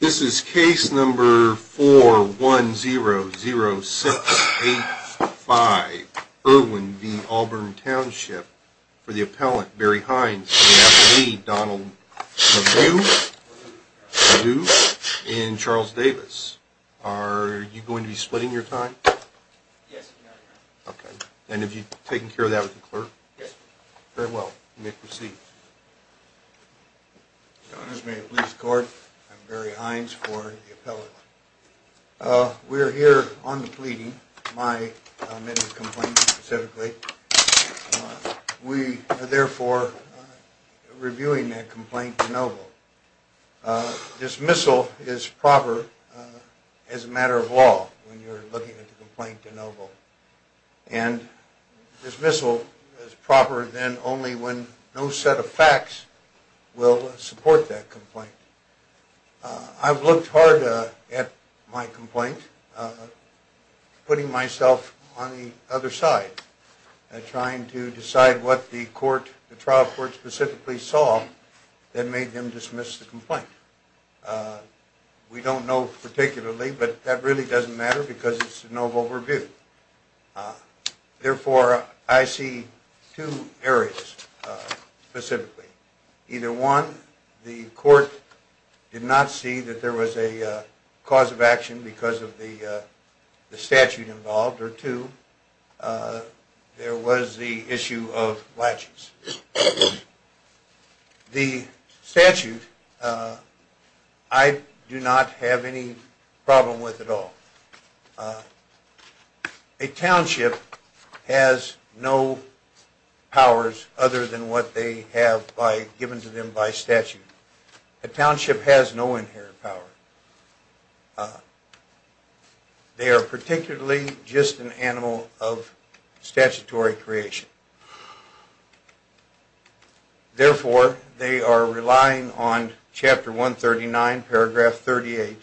This is case number 4100685, Irwin v. Auburn Township, for the appellant, Barry Hines, and the affidavit Donald Nadeau and Charles Davis. Are you going to be splitting your time? Yes, I'm going to be splitting my time. And have you taken care of that with the clerk? Yes, sir. Very well, you may proceed. Your Honor, this is the Maine Police Court. I'm Barry Hines for the appellant. We are here on the pleading, my amendment complaint specifically. We are therefore reviewing that complaint to no vote. Dismissal is proper as a matter of law when you're looking at the complaint to no vote. And dismissal is proper then only when no set of facts will support that complaint. I've looked hard at my complaint, putting myself on the other side, trying to decide what the trial court specifically saw that made them dismiss the complaint. We don't know particularly, but that really doesn't matter because it's a no vote review. Therefore, I see two areas specifically. Either one, the court did not see that there was a cause of action because of the statute involved, or two, there was the issue of latches. The statute, I do not have any problem with at all. A township has no powers other than what they have given to them by statute. A township has no inherent power. They are particularly just an animal of statutory creation. Therefore, they are relying on Chapter 139, Paragraph 38,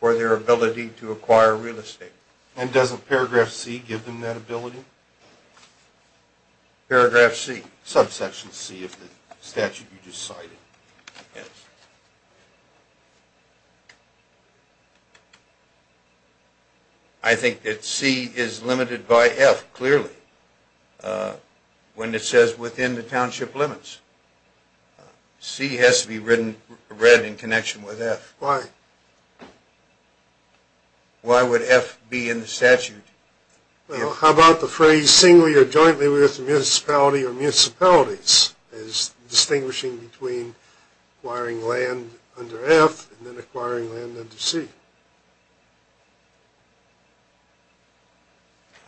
for their ability to acquire real estate. And doesn't Paragraph C give them that ability? Paragraph C. Subsection C of the statute you just cited. Yes. I think that C is limited by F, clearly, when it says within the township limits. C has to be read in connection with F. Why? Why would F be in the statute? Well, how about the phrase singly or jointly with municipality or municipalities? As distinguishing between acquiring land under F and then acquiring land under C.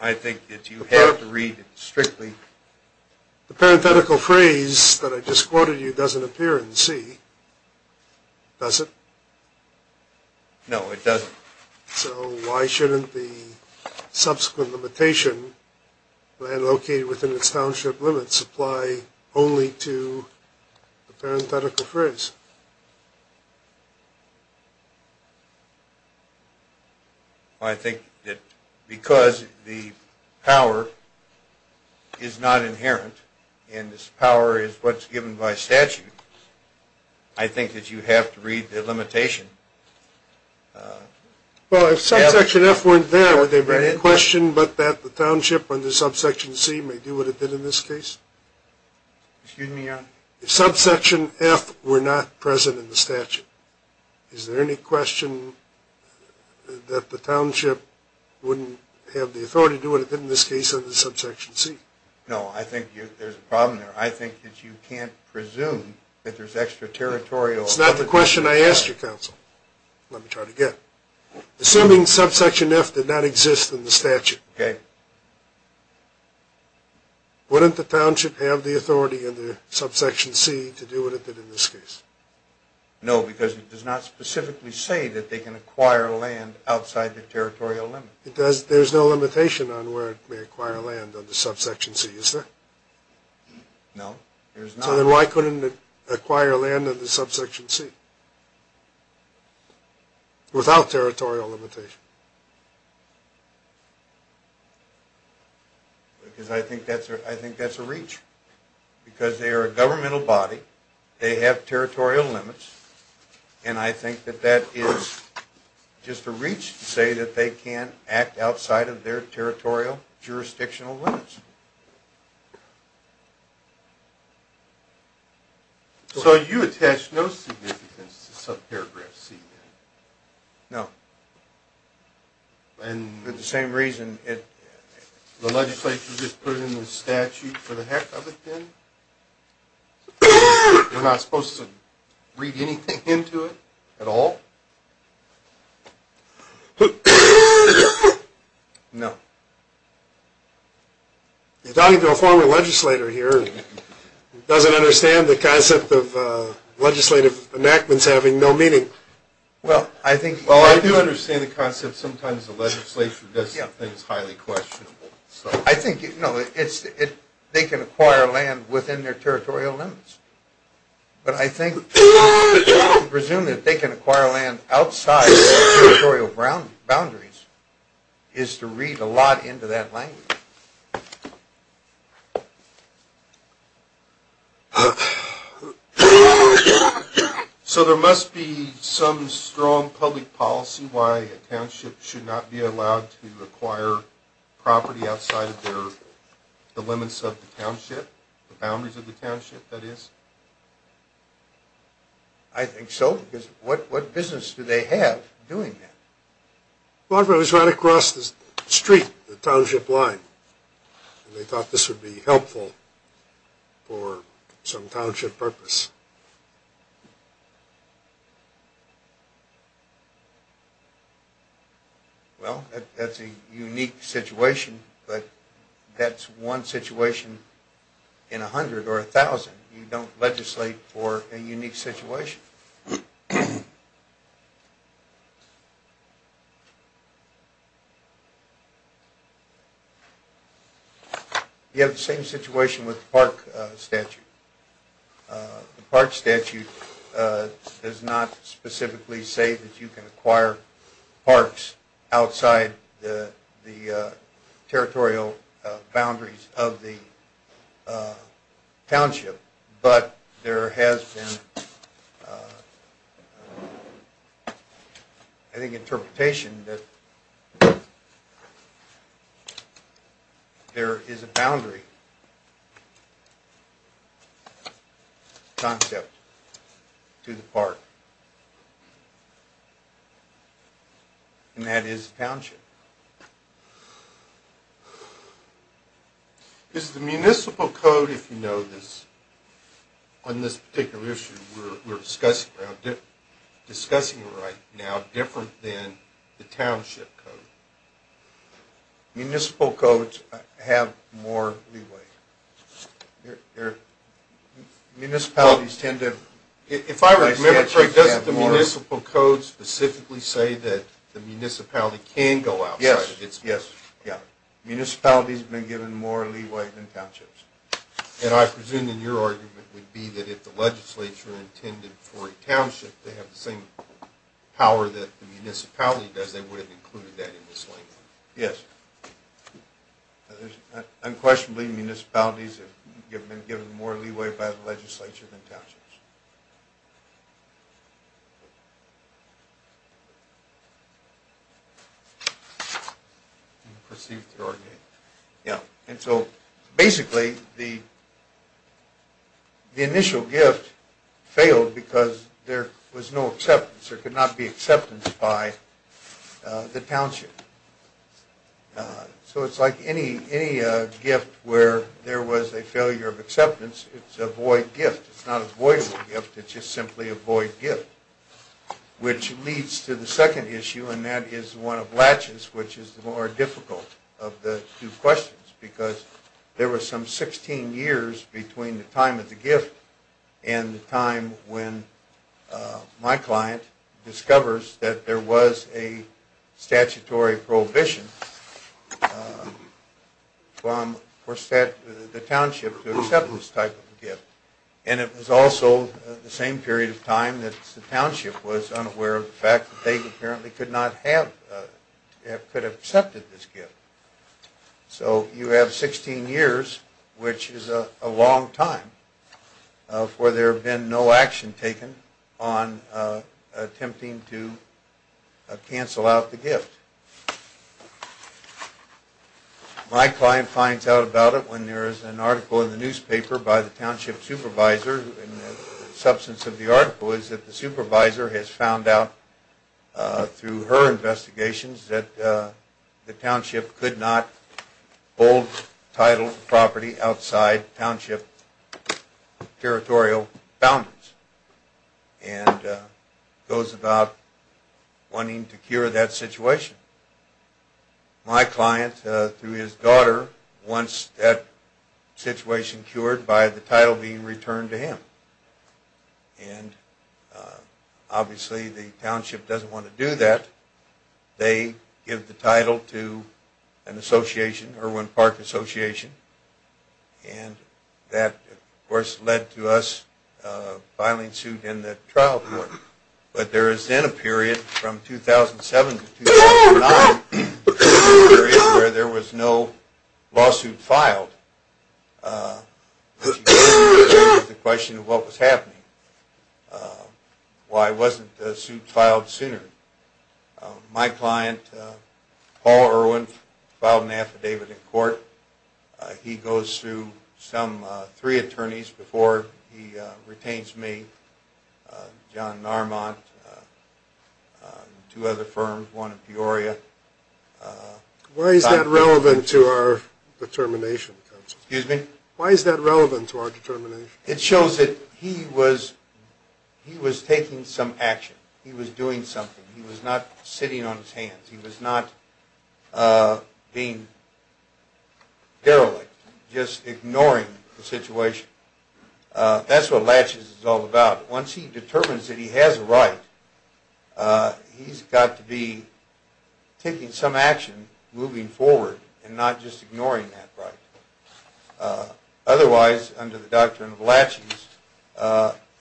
I think that you have to read it strictly. The parenthetical phrase that I just quoted you doesn't appear in C. Does it? No, it doesn't. So why shouldn't the subsequent limitation, land located within its township limits, apply only to the parenthetical phrase? I think that because the power is not inherent, and this power is what's given by statute, I think that you have to read the limitation. Well, if Subsection F weren't there, would there be any question but that the township under Subsection C may do what it did in this case? Excuse me, Your Honor? If Subsection F were not present in the statute, is there any question that the township wouldn't have the authority to do what it did in this case under Subsection C? No, I think there's a problem there. I think that you can't presume that there's extraterritorial... That's not the question I asked you, counsel. Let me try it again. Assuming Subsection F did not exist in the statute, wouldn't the township have the authority under Subsection C to do what it did in this case? No, because it does not specifically say that they can acquire land outside the territorial limit. There's no limitation on where it may acquire land under Subsection C, is there? No, there's not. So then why couldn't it acquire land under Subsection C without territorial limitation? Because I think that's a reach. Because they are a governmental body, they have territorial limits, and I think that that is just a reach to say that they can act outside of their territorial jurisdictional limits. So you attach no significance to Subparagraph C, then? No. And... For the same reason it... The legislature just put it in the statute for the heck of it, then? You're not supposed to read anything into it at all? No. You're talking to a former legislator here, who doesn't understand the concept of legislative enactments having no meaning. Well, I think... Well, I do understand the concept sometimes the legislature does some things highly questionable. I think, you know, it's... They can acquire land within their territorial limits. But I think... There's a lot into that language. So there must be some strong public policy why a township should not be allowed to acquire property outside of their... The limits of the township? The boundaries of the township, that is? I think so. What business do they have doing that? I thought it was right across the street, the township line. They thought this would be helpful for some township purpose. Well, that's a unique situation, but that's one situation in a hundred or a thousand. You don't legislate for a unique situation. You have the same situation with the park statute. The park statute does not specifically say that you can acquire parks outside the territorial boundaries of the township. But there has been... I think interpretation that... there is a boundary... concept to the park. And that is the township. Is the municipal code, if you know this... On this particular issue, we're discussing right now different than the township code. Municipal codes have more leeway. Municipalities tend to... If I remember correctly, doesn't the municipal code specifically say that the municipality can go outside? Yes, yes. Municipalities have been given more leeway than townships. And I presume that your argument would be that if the legislature intended for a township to have the same power that the municipality does, they would have included that in this language. Yes. Unquestionably, municipalities have been given more leeway by the legislature than townships. Unperceived argument. Yeah. And so basically, the initial gift failed because there was no acceptance. There could not be acceptance by the township. So it's like any gift where there was a failure of acceptance, it's a void gift. It's not a void gift, it's just simply a void gift. Which leads to the second issue, and that is one of latches, which is the more difficult of the two questions, because there was some 16 years between the time of the gift and the time when my client discovers that there was a statutory prohibition for the township to accept this type of gift. And it was also the same period of time that the township was unaware of the fact that they apparently could not have, could have accepted this gift. So you have 16 years, which is a long time, for there have been no action taken on attempting to cancel out the gift. My client finds out about it when there is an article in the newspaper by the township supervisor, and the substance of the article is that the supervisor has found out through her investigations that the township could not hold title property outside township territorial boundaries. And goes about wanting to cure that situation. My client, through his daughter, wants that situation cured by the title being returned to him. And obviously the township doesn't want to do that. They give the title to an association, Irwin Park Association, and that, of course, led to us filing suit in the trial court. But there is then a period from 2007 to 2009 where there was no lawsuit filed. The question of what was happening. Why wasn't the suit filed sooner? My client, Paul Irwin, filed an affidavit in court. He goes through some three attorneys before he retains me, John Narmont, two other firms, one in Peoria. Why is that relevant to our determination? It shows that he was taking some action. He was doing something. He was not sitting on his hands. He was not being derelict. Just ignoring the situation. That's what laches is all about. Once he determines that he has a right, he's got to be taking some action moving forward and not just ignoring that right. Otherwise, under the doctrine of laches,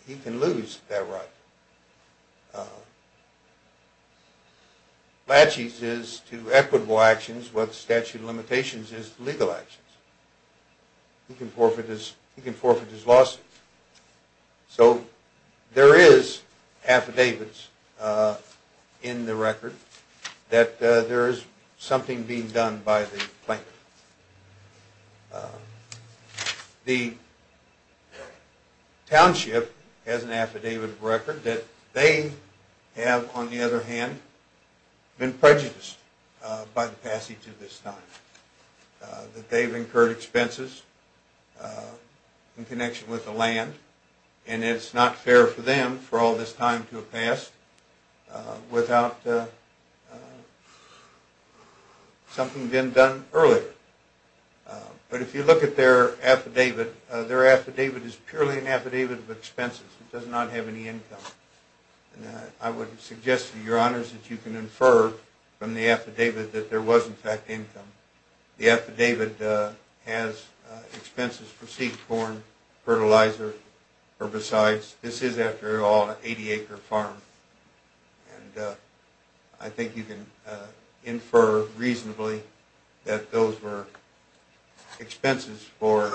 he can lose that right. Laches is to equitable actions is to legal actions. He can forfeit his lawsuit. So there is affidavits in the record that there is something being done by the plaintiff. The township has an affidavit of record that they have, on the other hand, been prejudiced by the passage of this time. That they've incurred expenses in connection with the land and it's not fair for them for all this time to have passed without something being done earlier. But if you look at their affidavit, their affidavit is purely an affidavit of expenses. It does not have any income. I would suggest to your honors that you can infer from the affidavit that there was, in fact, income. The affidavit has expenses for seed, corn, fertilizer, herbicides. This is, after all, an 80-acre farm. I think you can infer reasonably that those were expenses for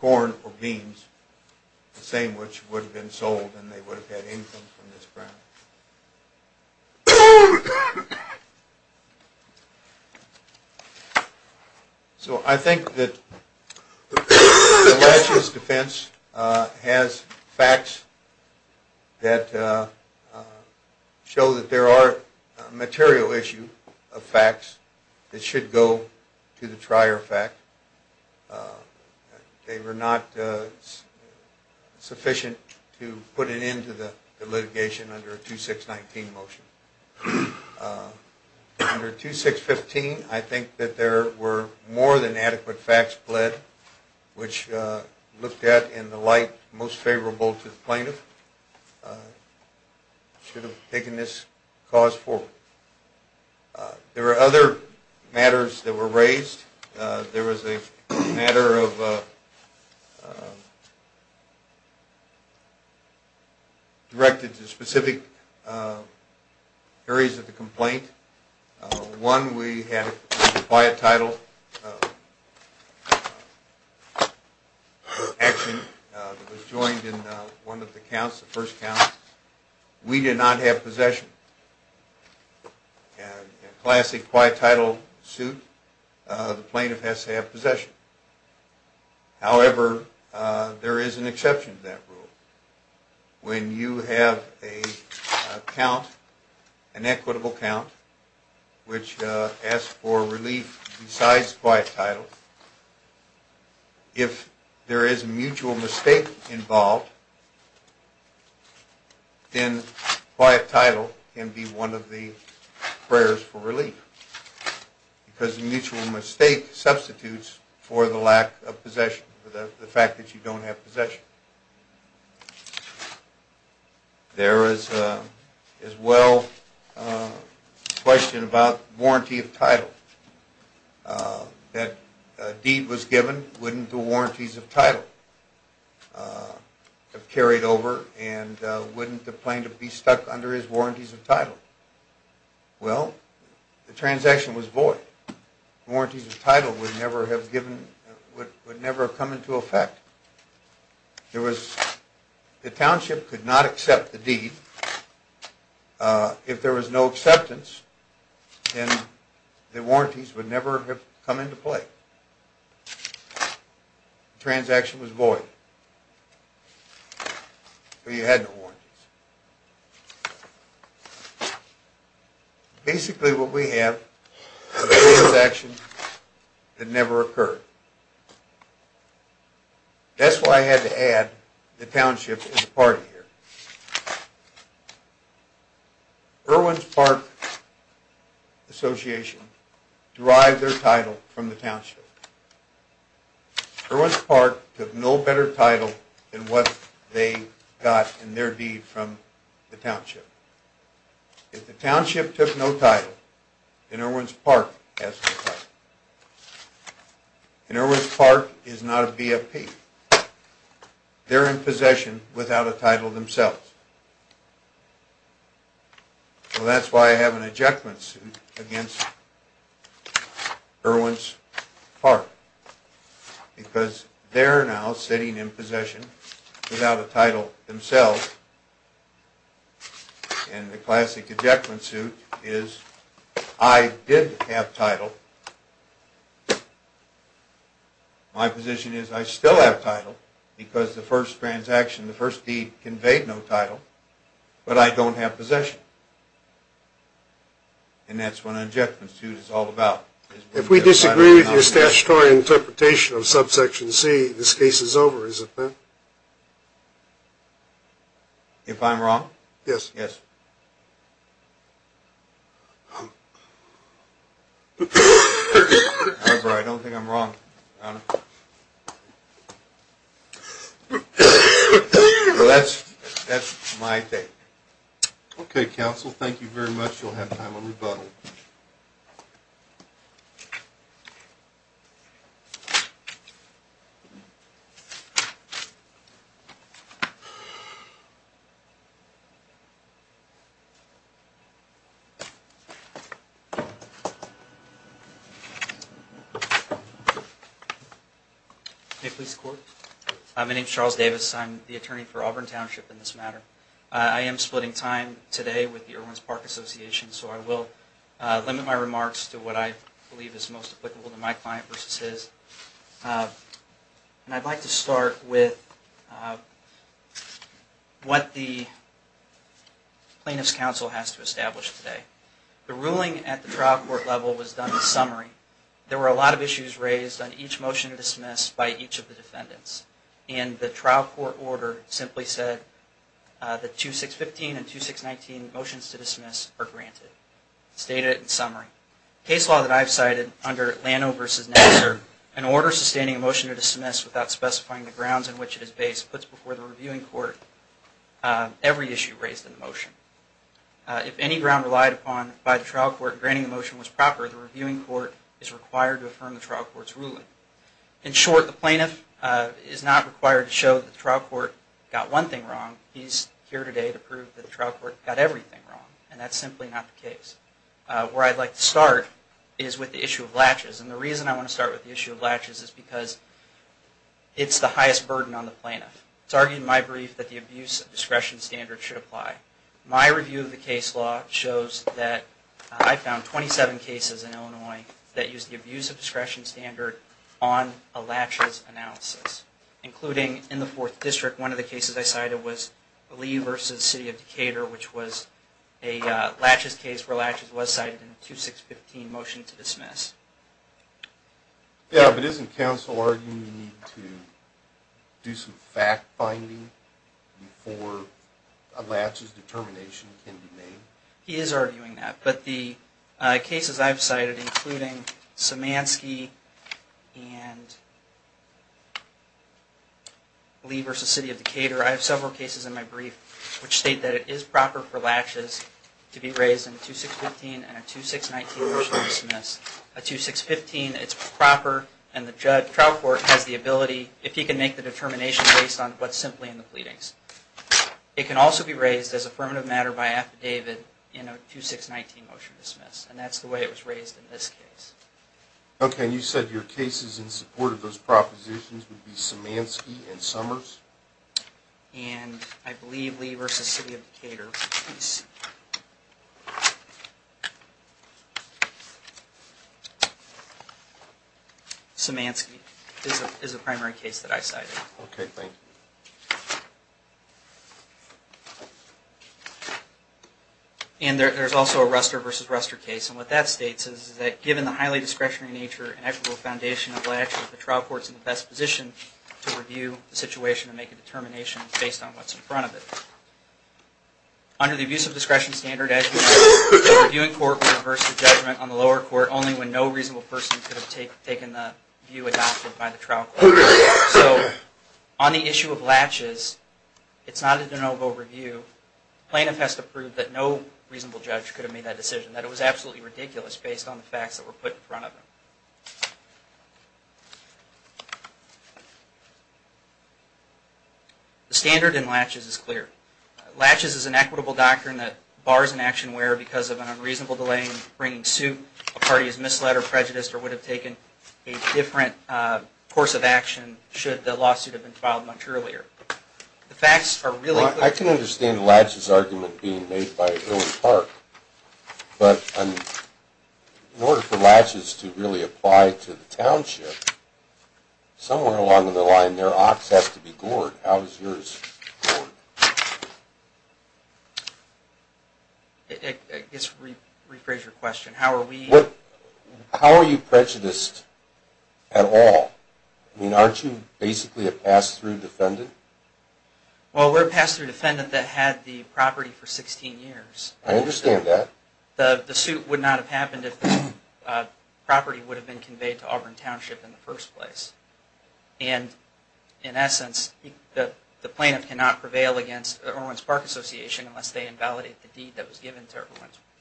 corn or beans, the same which would have been sold and they would have had income from this farm. So I think that the last year's defense has facts that show that there are material issue of facts that should go to the trier fact. They were not sufficient to put an end to the litigation under a 2-6-19 motion. Under 2-6-15, I think that there were more than adequate facts pled which looked at in the light most favorable to the plaintiff, should have taken this cause forward. There were other matters that were raised. There was a matter of... directed to specific areas of the complaint. One, we had a quiet title action that was joined in one of the counts, the first count. We did not have possession. A classic quiet title suit, the plaintiff has to have possession. However, there is an exception to that rule. When you have a count, an equitable count, which asks for relief besides quiet title, if there is a mutual mistake involved, then quiet title can be one of the prayers for relief because a mutual mistake substitutes for the lack of possession, for the fact that you don't have possession. There is, as well, a question about warranty of title. If a deed was given, wouldn't the warranties of title have carried over and wouldn't the plaintiff be stuck under his warranties of title? Well, the transaction was void. Warranties of title would never have come into effect. The township could not accept the deed. If there was no acceptance, then the warranties would never have come into play. The transaction was void. So you had no warranties. Basically, what we have are transactions that never occurred. That's why I had to add the township as a part of here. derived their title from the township. Irwin's Park took no better title than what they got in their deed from the township. If the township took no title, then Irwin's Park has no title. And Irwin's Park is not a BFP. They're in possession without a title themselves. So that's why I have an ejectment suit against Irwin's Park. Because they're now sitting in possession without a title themselves. And the classic ejectment suit is I did have title. My position is I still have title because the first transaction, the first deed but I don't have possession. And that's what an ejectment suit is all about. If we disagree with your statutory interpretation of subsection C, this case is over, isn't it? If I'm wrong? Yes. However, I don't think I'm wrong. Your Honor. That's my take. Okay, counsel. Thank you very much. You'll have time on rebuttal. May I please record? My name is Charles Davis. I'm the attorney for Auburn Township in this matter. I am splitting time today with the Irwin's Park Association so I will limit my remarks to what I believe is most applicable to my client versus his. And I'd like to start with what the plaintiff's counsel has to establish today. The ruling at the trial court level was done in summary. There were a lot of issues raised on each motion to dismiss by each of the defendants. And the trial court order simply said that 2615 and 2619 motions to dismiss are granted. Stated in summary. Case law that I've cited under Lano v. Nassar, an order sustaining a motion to dismiss without specifying the grounds in which it is based puts before the reviewing court every issue raised in the motion. If any ground relied upon by the trial court the reviewing court is required to affirm the trial court's ruling. In short, the plaintiff is not required to show that the trial court got one thing wrong. He's here today to prove that the trial court got everything wrong. And that's simply not the case. Where I'd like to start is with the issue of latches. And the reason I want to start with the issue of latches is because it's the highest burden on the plaintiff. It's argued in my brief that the abuse of discretion standard should apply. My review of the case law shows that I found 27 cases in Illinois that used the abuse of discretion standard on a latches analysis. Including in the 4th District one of the cases I cited was Lee v. City of Decatur which was a latches case where latches was cited in 2615 motion to dismiss. Yeah, but isn't counsel arguing you need to do some fact finding before a latches determination can be made? He is arguing that. But the cases I've cited including Szymanski and Lee v. City of Decatur I have several cases in my brief which state that it is proper for latches to be raised in 2615 and a 2619 motion to dismiss. A 2615 it's proper and the trial court has the ability if he can make the determination based on what's simply in the pleadings. It can also be raised as affirmative matter by affidavit in a 2619 motion to dismiss. And that's the way it was raised in this case. Okay, and you said your cases in support of those propositions would be Szymanski and Summers? And I believe Lee v. City of Decatur. Szymanski is the primary case that I cited. Okay, thank you. And there's also a Ruster v. Ruster case and what that states is that given the highly discretionary nature and equitable foundation of latches the trial court is in the best position to review the situation and make a determination based on what's in front of it. Under the Abusive Discretion Standard a reviewing court would reverse the judgment on the lower court only when no reasonable person could have taken the view adopted by the trial court. So on the issue of latches it's not a de novo review. Plaintiff has to prove that no reasonable judge could have made that decision, that it was absolutely ridiculous based on the facts that were put in front of it. The standard in latches is clear. Latches is an equitable doctrine that bars an action where because of an unreasonable delay in bringing suit a party has misled or prejudiced or would have taken a different course of action should the lawsuit have been filed much earlier. I can understand the latches argument being made by Erwin Park but in order for latches to really apply to the township somewhere along the line their ox has to be gored. How is yours gored? I guess rephrase your question. How are you prejudiced at all? I mean aren't you basically a pass through defendant? Well we're a pass through defendant that had the property for 16 years. I understand that. The suit would not have happened if the property would have been conveyed to Auburn Township in the first place. And in essence the plaintiff cannot prevail against the Erwin's Park Association unless they invalidate the deed that was given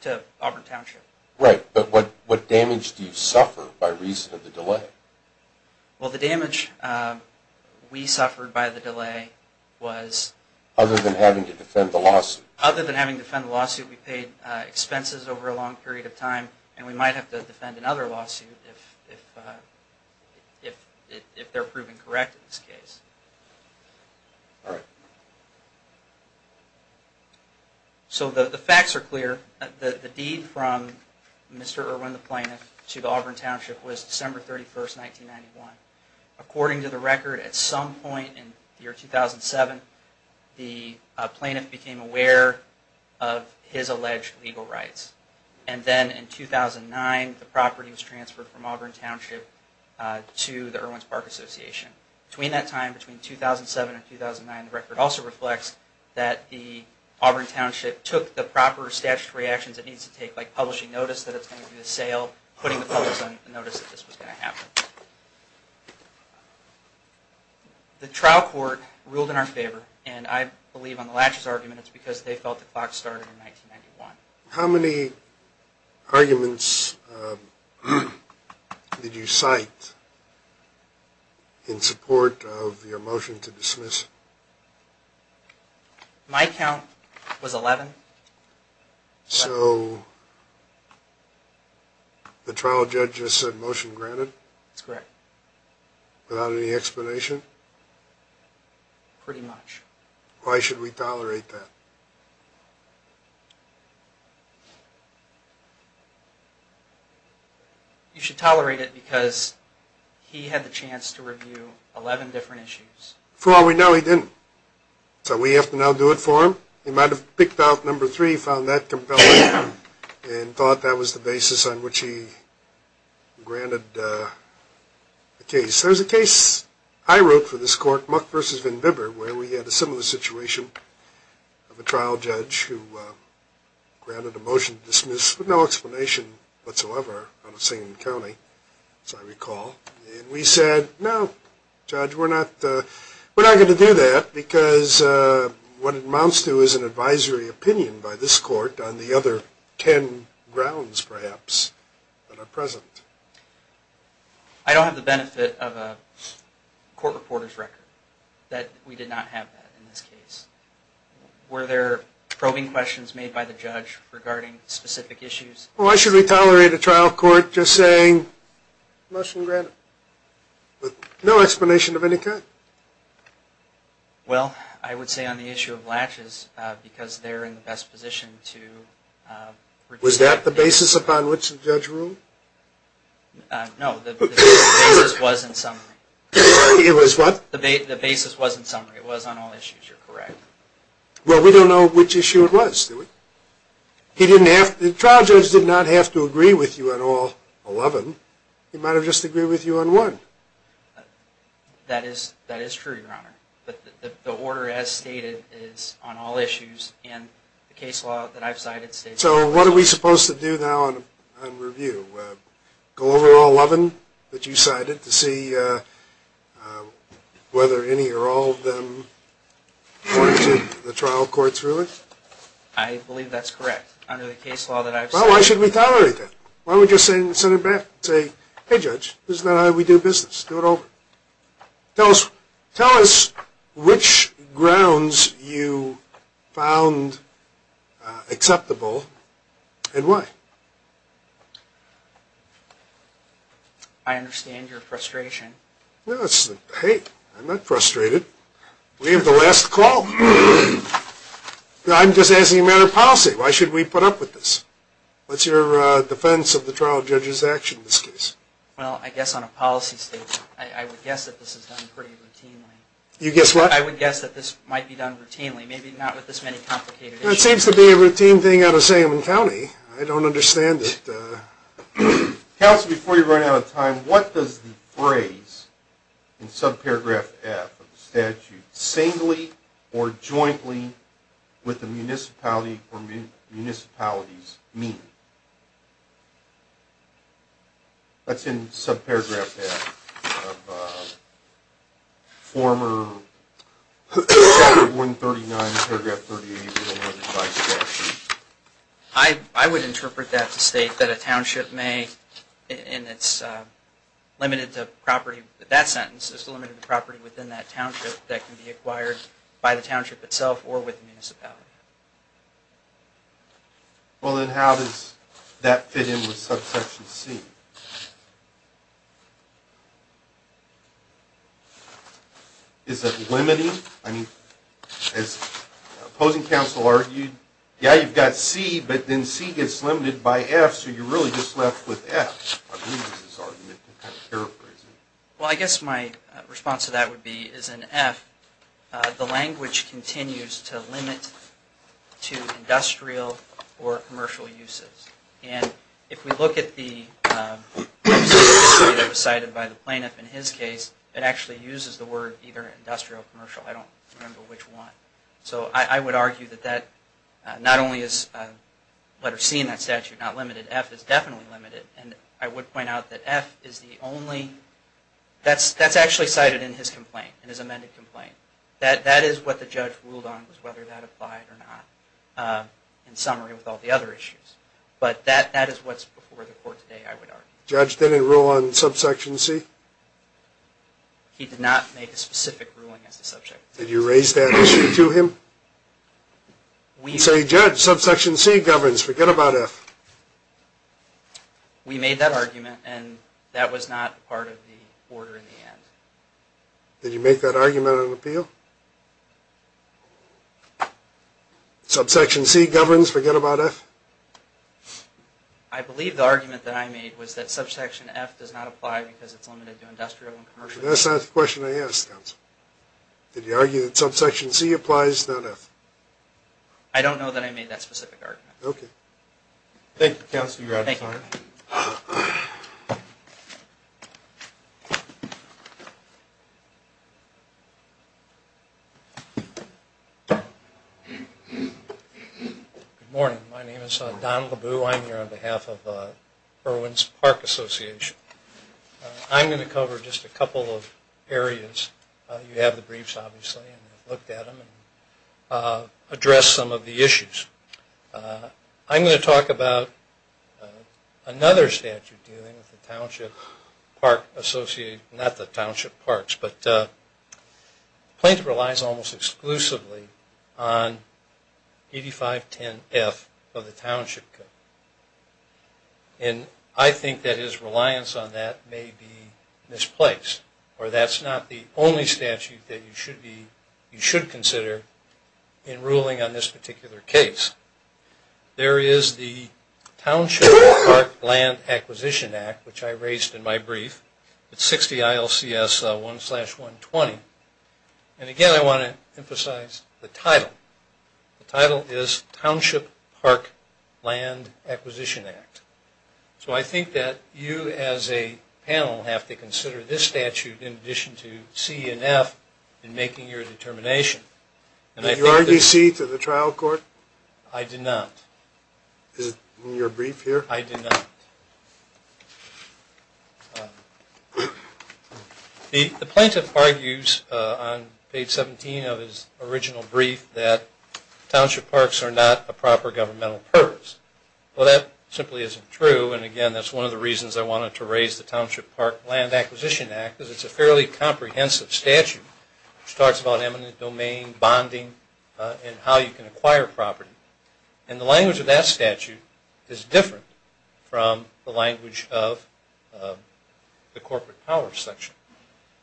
to Auburn Township. But what damage do you suffer by reason of the delay? Well the damage we suffered by the delay was other than having to defend the lawsuit. We paid expenses over a long period of time and we might have to defend another lawsuit if they're proven correct in this case. So the facts are clear. The deed from Mr. Erwin the plaintiff to the Auburn Township was December 31st, 1991. According to the record at some point in the year 2007 the plaintiff became aware of his alleged legal rights. And then in 2009 the property was transferred from Auburn Township to the Erwin's Park Association. Between that time, between 2007 and 2009, the record also reflects that the Auburn Township took the proper statutory actions it needs to take, like publishing notice that it's going to be for sale, putting the notice that this was going to happen. The trial court ruled in our favor and I believe on the latches argument it's because they felt the clock started in 1991. How many arguments did you cite in support of your motion to dismiss? My count was 11. So the trial judge just said motion granted? That's correct. Without any explanation? Pretty much. Why should we tolerate that? You should tolerate it because he had the chance to review 11 different issues. For all we know he didn't. So we have to now do it for him? He might have picked out number three, found that compelling, and thought that was the basis on which he granted the case. There's a case I wrote for this court, where we had a similar situation of a trial judge who granted a motion to dismiss with no explanation whatsoever on the same county as I recall. We said, no judge, we're not going to do that because what it amounts to is an advisory opinion by this court on the other 10 grounds perhaps that are present. I don't have the benefit of a court reporter's record that we did not have that in this case. Were there probing questions made by the judge regarding specific issues? Why should we tolerate a trial court just saying motion granted with no explanation of any kind? Well, I would say on the issue of latches, because they're in the best position to Was that the basis upon which the judge ruled? No, the basis was in summary. It was what? The basis was in summary. It was on all issues. You're correct. Well, we don't know which issue it was. The trial judge did not have to agree with you on all 11. He might have just agreed with you on one. That is true, Your Honor. The order as stated is on all issues and the case law that I've cited states... So what are we supposed to do now on review? Go over all 11 that you cited to see whether any or all of them according to the trial court's ruling? I believe that's correct under the case law that I've cited. Well, why should we tolerate that? Why don't we just send it back and say, hey judge, this is not how we do business. Do it over. Tell us which grounds you found acceptable and why. I understand your frustration. Hey, I'm not frustrated. We have the last call. I'm just asking a matter of policy. Why should we put up with this? What's your defense of the trial judge's action in this case? Well, I guess on a policy stage, I would guess that this is done pretty routinely. You guess what? I would guess that this might be done routinely. Maybe not with this many complicated issues. It seems to be a routine thing out of Salem County. I don't understand it. Counsel, before you run out of time, what does the phrase in subparagraph F of the statute singly or jointly with the municipality or municipalities mean? That's in subparagraph F of former statute 139, paragraph 38, and 115. I would interpret that to state that a township may, and it's limited to property, that sentence is limited to property within that township that can be acquired by the township itself or with the municipality. Well, then, how does that fit in with subsection C? Is it limiting? I mean, as opposing counsel argued, yeah, you've got C, but then C gets limited by F, so you're really just left with F. I believe that's his argument. Well, I guess my response to that would be, as in F, the language continues to limit to industrial or commercial uses. And if we look at the subsection C that was cited by the plaintiff in his case, it actually uses the word either industrial or commercial. I don't remember which one. So I would argue that that not only is letter C in that statute not limited, F is definitely limited. And I would point out that F is the only that's actually cited in his complaint, in his amended complaint. That is what the judge ruled on, was whether that applied or not. In summary, with all the other issues. But that is what's before the court today, I would argue. Judge didn't rule on subsection C? He did not make a specific ruling as the subject. Did you raise that issue to him? Say, Judge, subsection C governs. Forget about F. We made that argument, and that was not a part of the order in the end. Did you make that argument on appeal? Subsection C governs. Forget about F? I believe the argument that I made was that subsection F does not apply because it's limited to industrial and commercial. That's not the question I asked, counsel. Did you argue that subsection C applies, not F? argument. Okay. Thank you, counsel. You're out of time. Good morning. My name is Don LeBoux. I'm here on behalf of Irwin's Park Association. I'm going to cover just a couple of areas. You have the briefs, obviously, and we've looked at them and addressed some of the issues. another statute dealing with the Township Park Association. I'm going to talk about the Park Association, not the Township Parks, but Plaintiff relies almost exclusively on 8510F of the Township Code. I think that his reliance on that may be misplaced, or that's not the only statute that you should consider in ruling on this particular case. There is the Township Park Land Acquisition Act, which I raised in my brief. It's 60 ILCS 1-120. Again, I want to emphasize the title. The title is Township Park Land Acquisition Act. I think that you as a panel have to consider this statute in addition to C and F in making your determination. Did you argue C to the trial court? I did not. Is it in your brief here? I did not. The plaintiff argues on page 17 of his original brief that township parks are not a proper governmental purpose. Well, that simply isn't true, and again, that's one of the reasons I wanted to raise the Township Park Land Acquisition Act, because it's a fairly comprehensive statute which talks about eminent domain, bonding, and how you can use it. The language of that statute is different from the language of the corporate power section.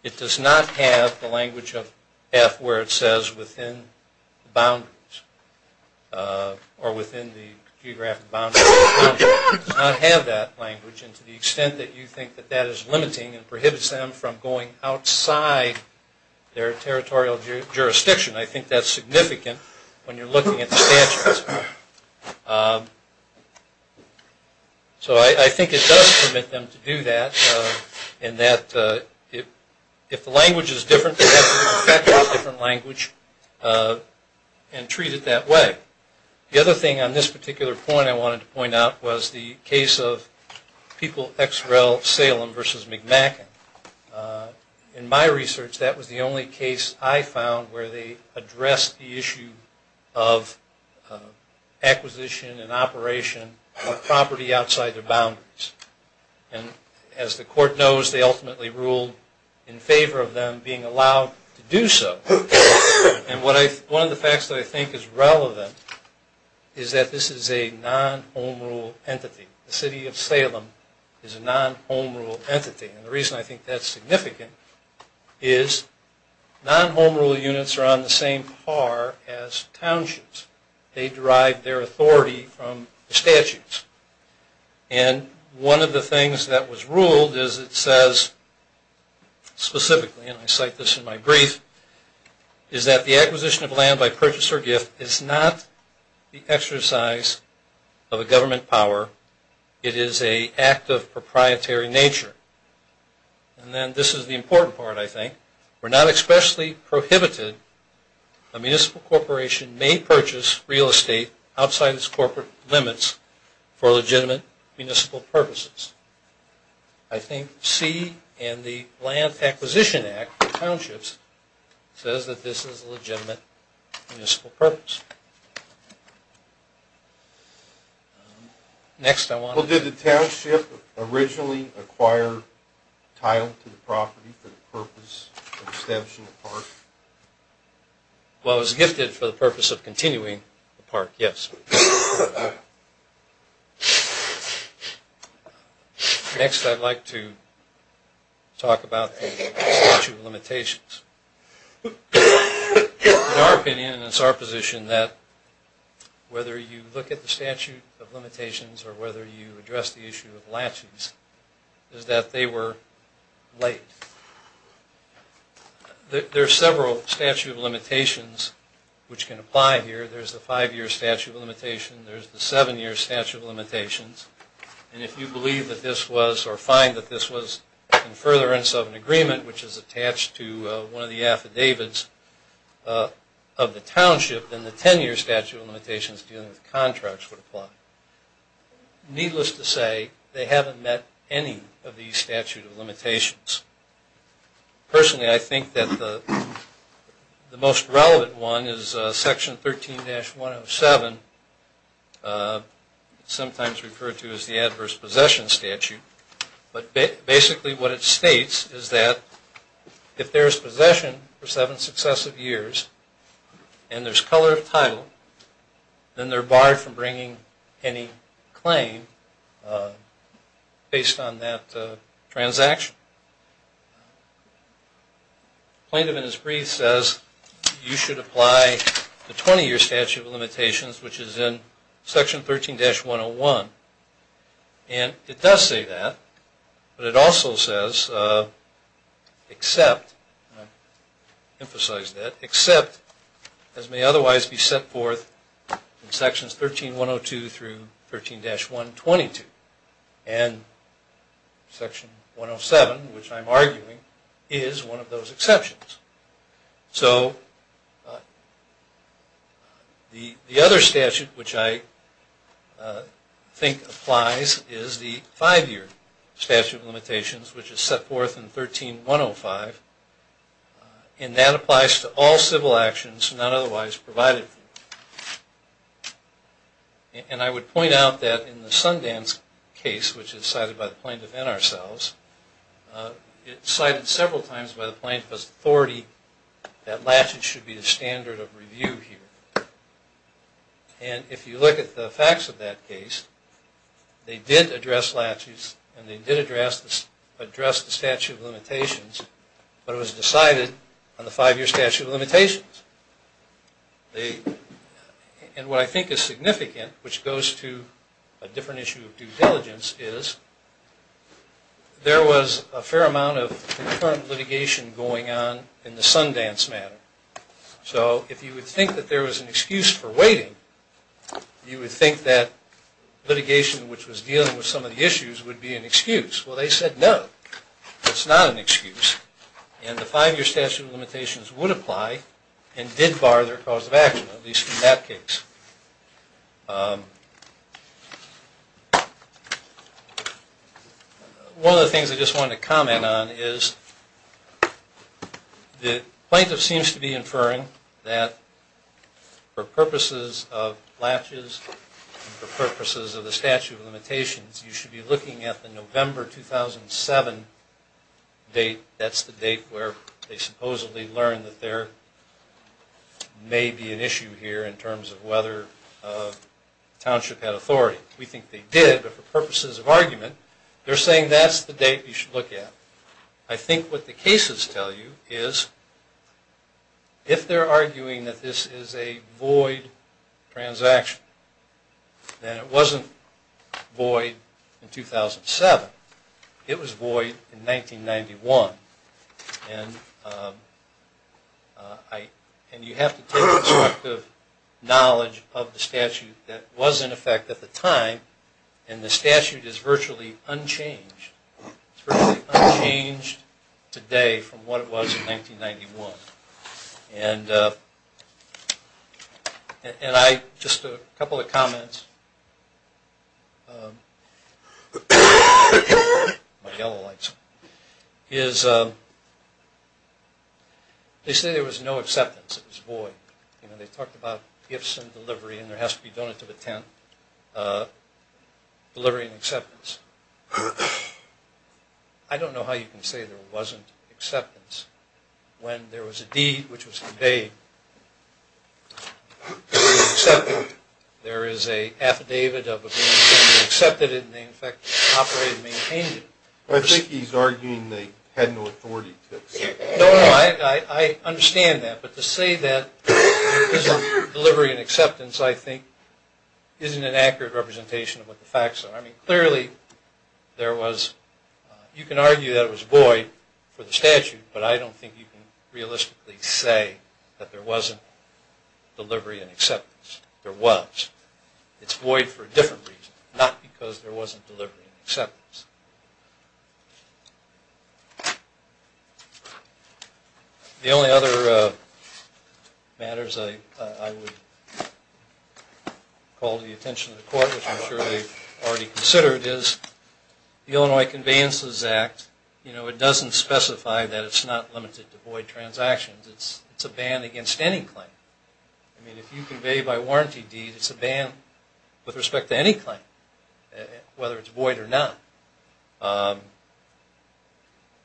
It does not have the language of F where it says within boundaries or within the geographic boundaries. It does not have that language, and to the extent that you think that that is limiting and prohibits them from going outside their territorial jurisdiction, I think that's significant when you're looking at the statute. So I think it does permit them to do that in that if the language is different, they have to use a different language and treat it that way. The other thing on this particular point I wanted to point out was the case of People X Rel Salem versus McMacken. In my research, that was the only case I found where they addressed the issue of acquisition and operation of property outside their boundaries. As the court knows, they ultimately ruled in favor of them being allowed to do so. One of the facts that I think is relevant is that this is a non-home rule entity. The city of Salem is a non-home rule entity, and the reason I think that's significant is that non-home rule units are on the same par as townships. They derive their authority from the statutes. And one of the things that was ruled is it says specifically, and I cite this in my brief, is that the acquisition of land by purchase or gift is not the exercise of a government power. It is an act of proprietary nature. And then this is the important part, I think. We're not especially prohibited. A municipal corporation may purchase real estate outside its corporate limits for legitimate municipal purposes. I think C and the Land Acquisition Act for townships says that this is a legitimate municipal purpose. Next, I want to... Did the township originally acquire title to the property for the purpose of establishing the park? Well, it was gifted for the purpose of continuing the park, yes. Next, I'd like to talk about the statute of limitations. In our opinion, and it's our position, that whether you look at the statute of limitations or whether you address the issue of latches, is that they were late. There are several statute of limitations which can apply here. There's the five-year statute of limitations. There's the seven-year statute of limitations. And if you believe that this was, or find that this was in furtherance of an agreement, which is attached to one of the affidavits of the township, then the ten-year statute of limitations dealing with contracts would apply. Needless to say, they haven't met any of these statute of limitations. Personally, I think that the most relevant one is section 13-107, sometimes referred to as the adverse possession statute, but basically what it states is that if there's possession for seven successive years, and there's a color of title, then they're barred from bringing any claim based on that transaction. Plaintiff in his brief says you should apply the 20-year statute of limitations, which is in section 13-101. And it does say that, but it also says, except, and I emphasize that, except, as may otherwise be set forth in sections 13-102 through 13-122. And section 107, which I'm arguing, is one of those exceptions. So the other statute which I think applies is the five-year statute of limitations, which is set forth in section 105. And that applies to all civil actions not otherwise provided for. And I would point out that in the Sundance case, which is cited by the Plaintiff and ourselves, it's cited several times by the Plaintiff's authority that latches should be the standard of review here. And if you look at the facts of that case, they did address latches, and they did address the statute of limitations, but it was decided on the five-year statute of limitations. And what I think is significant, which goes to a different issue of due diligence, is there was a fair amount of concurrent litigation going on in the Sundance matter. So if you would think that there was an excuse for waiting, you would think that the litigation which was dealing with some of the issues would be an excuse. Well, they said no, it's not an excuse. And the five-year statute of limitations would apply and did bar their cause of action, at least in that case. One of the things I just wanted to comment on is the Plaintiff seems to be inferring that for purposes of the statute of limitations, you should be looking at the November 2007 date. That's the date where they supposedly learned that there may be an issue here in terms of whether Township had authority. We think they did, but for purposes of argument, they're saying that's the date you should look at. I think what the cases tell you is if they're arguing that this is a void transaction, then it wasn't void in 2007. It was void in 1991. And you have to take into account the knowledge of the statute that was in effect at the time, and the statute is virtually unchanged. It's virtually unchanged today from what it was in 1991. And I just have a couple of comments. They say there was no acceptance. It was void. They talked about gifts and delivery, and there has to be donated to the tent. Delivery and acceptance. I don't know how you can say there wasn't acceptance when there was a deed which was conveyed to be accepted. There is an affidavit of being accepted, and they in fact operated and maintained it. I think he's arguing they had no authority to accept it. No, I understand that, but to say that because of delivery and acceptance, I think isn't an accurate representation of what the facts are. I mean, clearly, there was, you can argue that there was void for the statute, but I don't think you can realistically say that there wasn't delivery and acceptance. There was. It's void for a different reason, not because there wasn't delivery and acceptance. The only other matters I would call to the attention of the court, which I'm sure they've already considered, is the Illinois Conveyances Act. It doesn't specify that it's not limited to void transactions. It's a ban against any claim. I mean, if you convey by warranty deed, it's a ban with respect to any claim, whether it's void or not.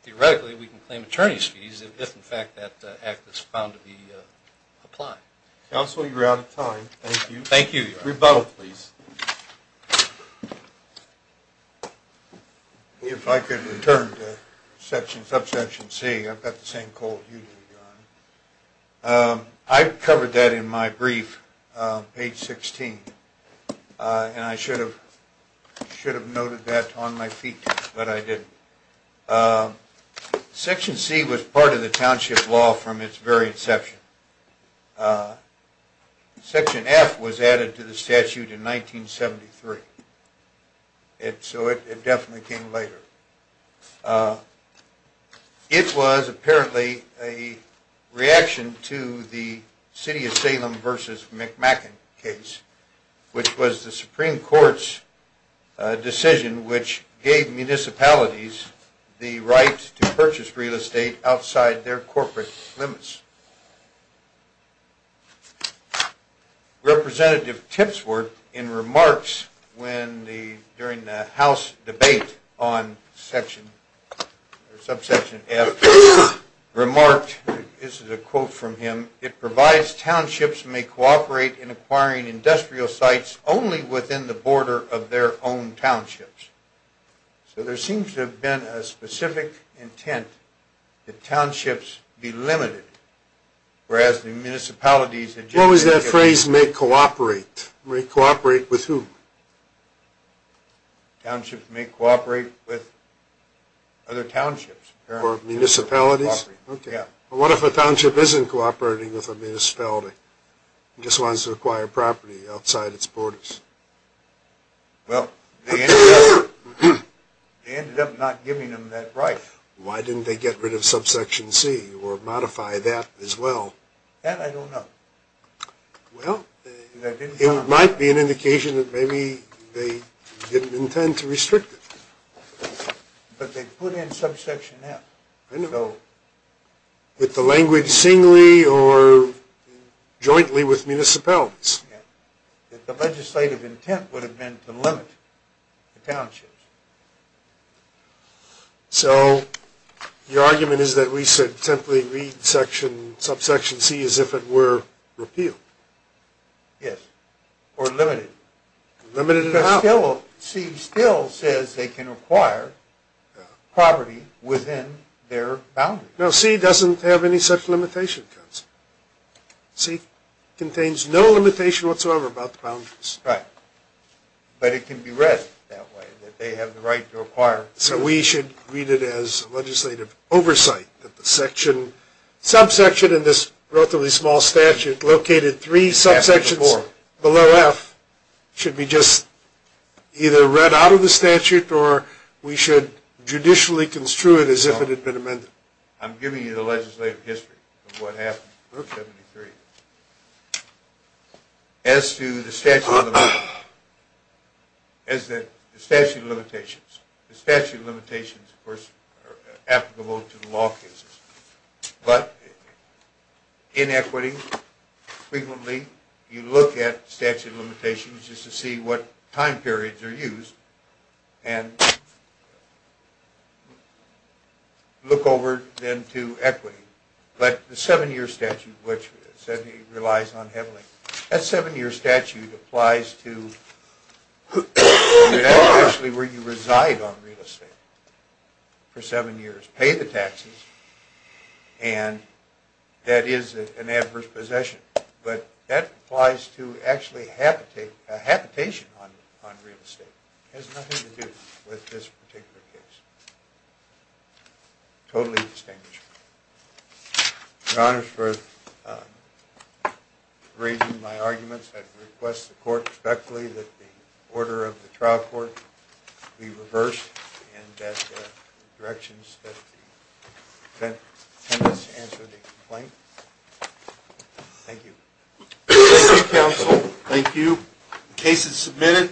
Theoretically, we can claim attorney's fees if, in fact, that act is found to be applied. Counsel, you're out of time. Thank you. Thank you. Rebuttal, please. If I could return to subsection C, I've got the same cold as you do, Your Honor. I covered that in my brief, page 16, and I should have noted that on my feet, but I didn't. Section C was part of the township law from its very inception. Section F was added to the statute in 1973. So it definitely came later. It was apparently a reaction to the City of Salem v. McMacken case, which was the Supreme Court's decision which gave municipalities the right to purchase real estate outside their corporate limits. Representative Tipsworth, in remarks during the House debate on subsection F, remarked, this is a quote from him, it provides townships may cooperate in acquiring industrial sites only within the border of their own townships. So there seems to have been a specific intent that townships be limited, whereas the municipalities What was that phrase, may cooperate? May cooperate with who? Townships may cooperate with other townships. Or municipalities? What if a township isn't cooperating with a municipality? It just wants to acquire property outside its borders. Well, they ended up not giving them that right. Why didn't they get rid of subsection C, or modify that as well? That I don't know. Well, it might be an indication that maybe they didn't intend to restrict it. But they put in subsection F. With the language singly, or jointly with municipalities. The legislative intent would have been to limit the townships. So, your argument is that we should simply read subsection C as if it were repealed? Yes, or limited. Limited in how? C still says they can acquire property within their boundaries. No, C doesn't have any such limitation. C contains no limitation whatsoever about the boundaries. Right. But it can be read that way, that they have the right to acquire. So we should read it as legislative oversight, that the section subsection in this relatively small statute, located three subsections below F, should be just either read out of the statute, or we should judicially construe it as if it had been amended. I'm giving you the legislative history of what happened in 1773. As to the statute of limitations. The statute of limitations, of course, are applicable to the law cases. But, in equity, frequently, you look at statute of limitations just to see what time periods are used, and look over then to equity. But the seven-year statute, which relies on heavily, that seven-year statute applies to where you reside on real estate for seven years. Pay the taxes, and that is an adverse possession. But that applies to actually habitation on real estate. It has nothing to do with this particular case. Totally distinguishable. Your Honor, for raising my arguments, I request the order of the trial court be reversed, and that the directions that the defendants answer the complaint. Thank you. Thank you, Counsel. Thank you. The case is submitted.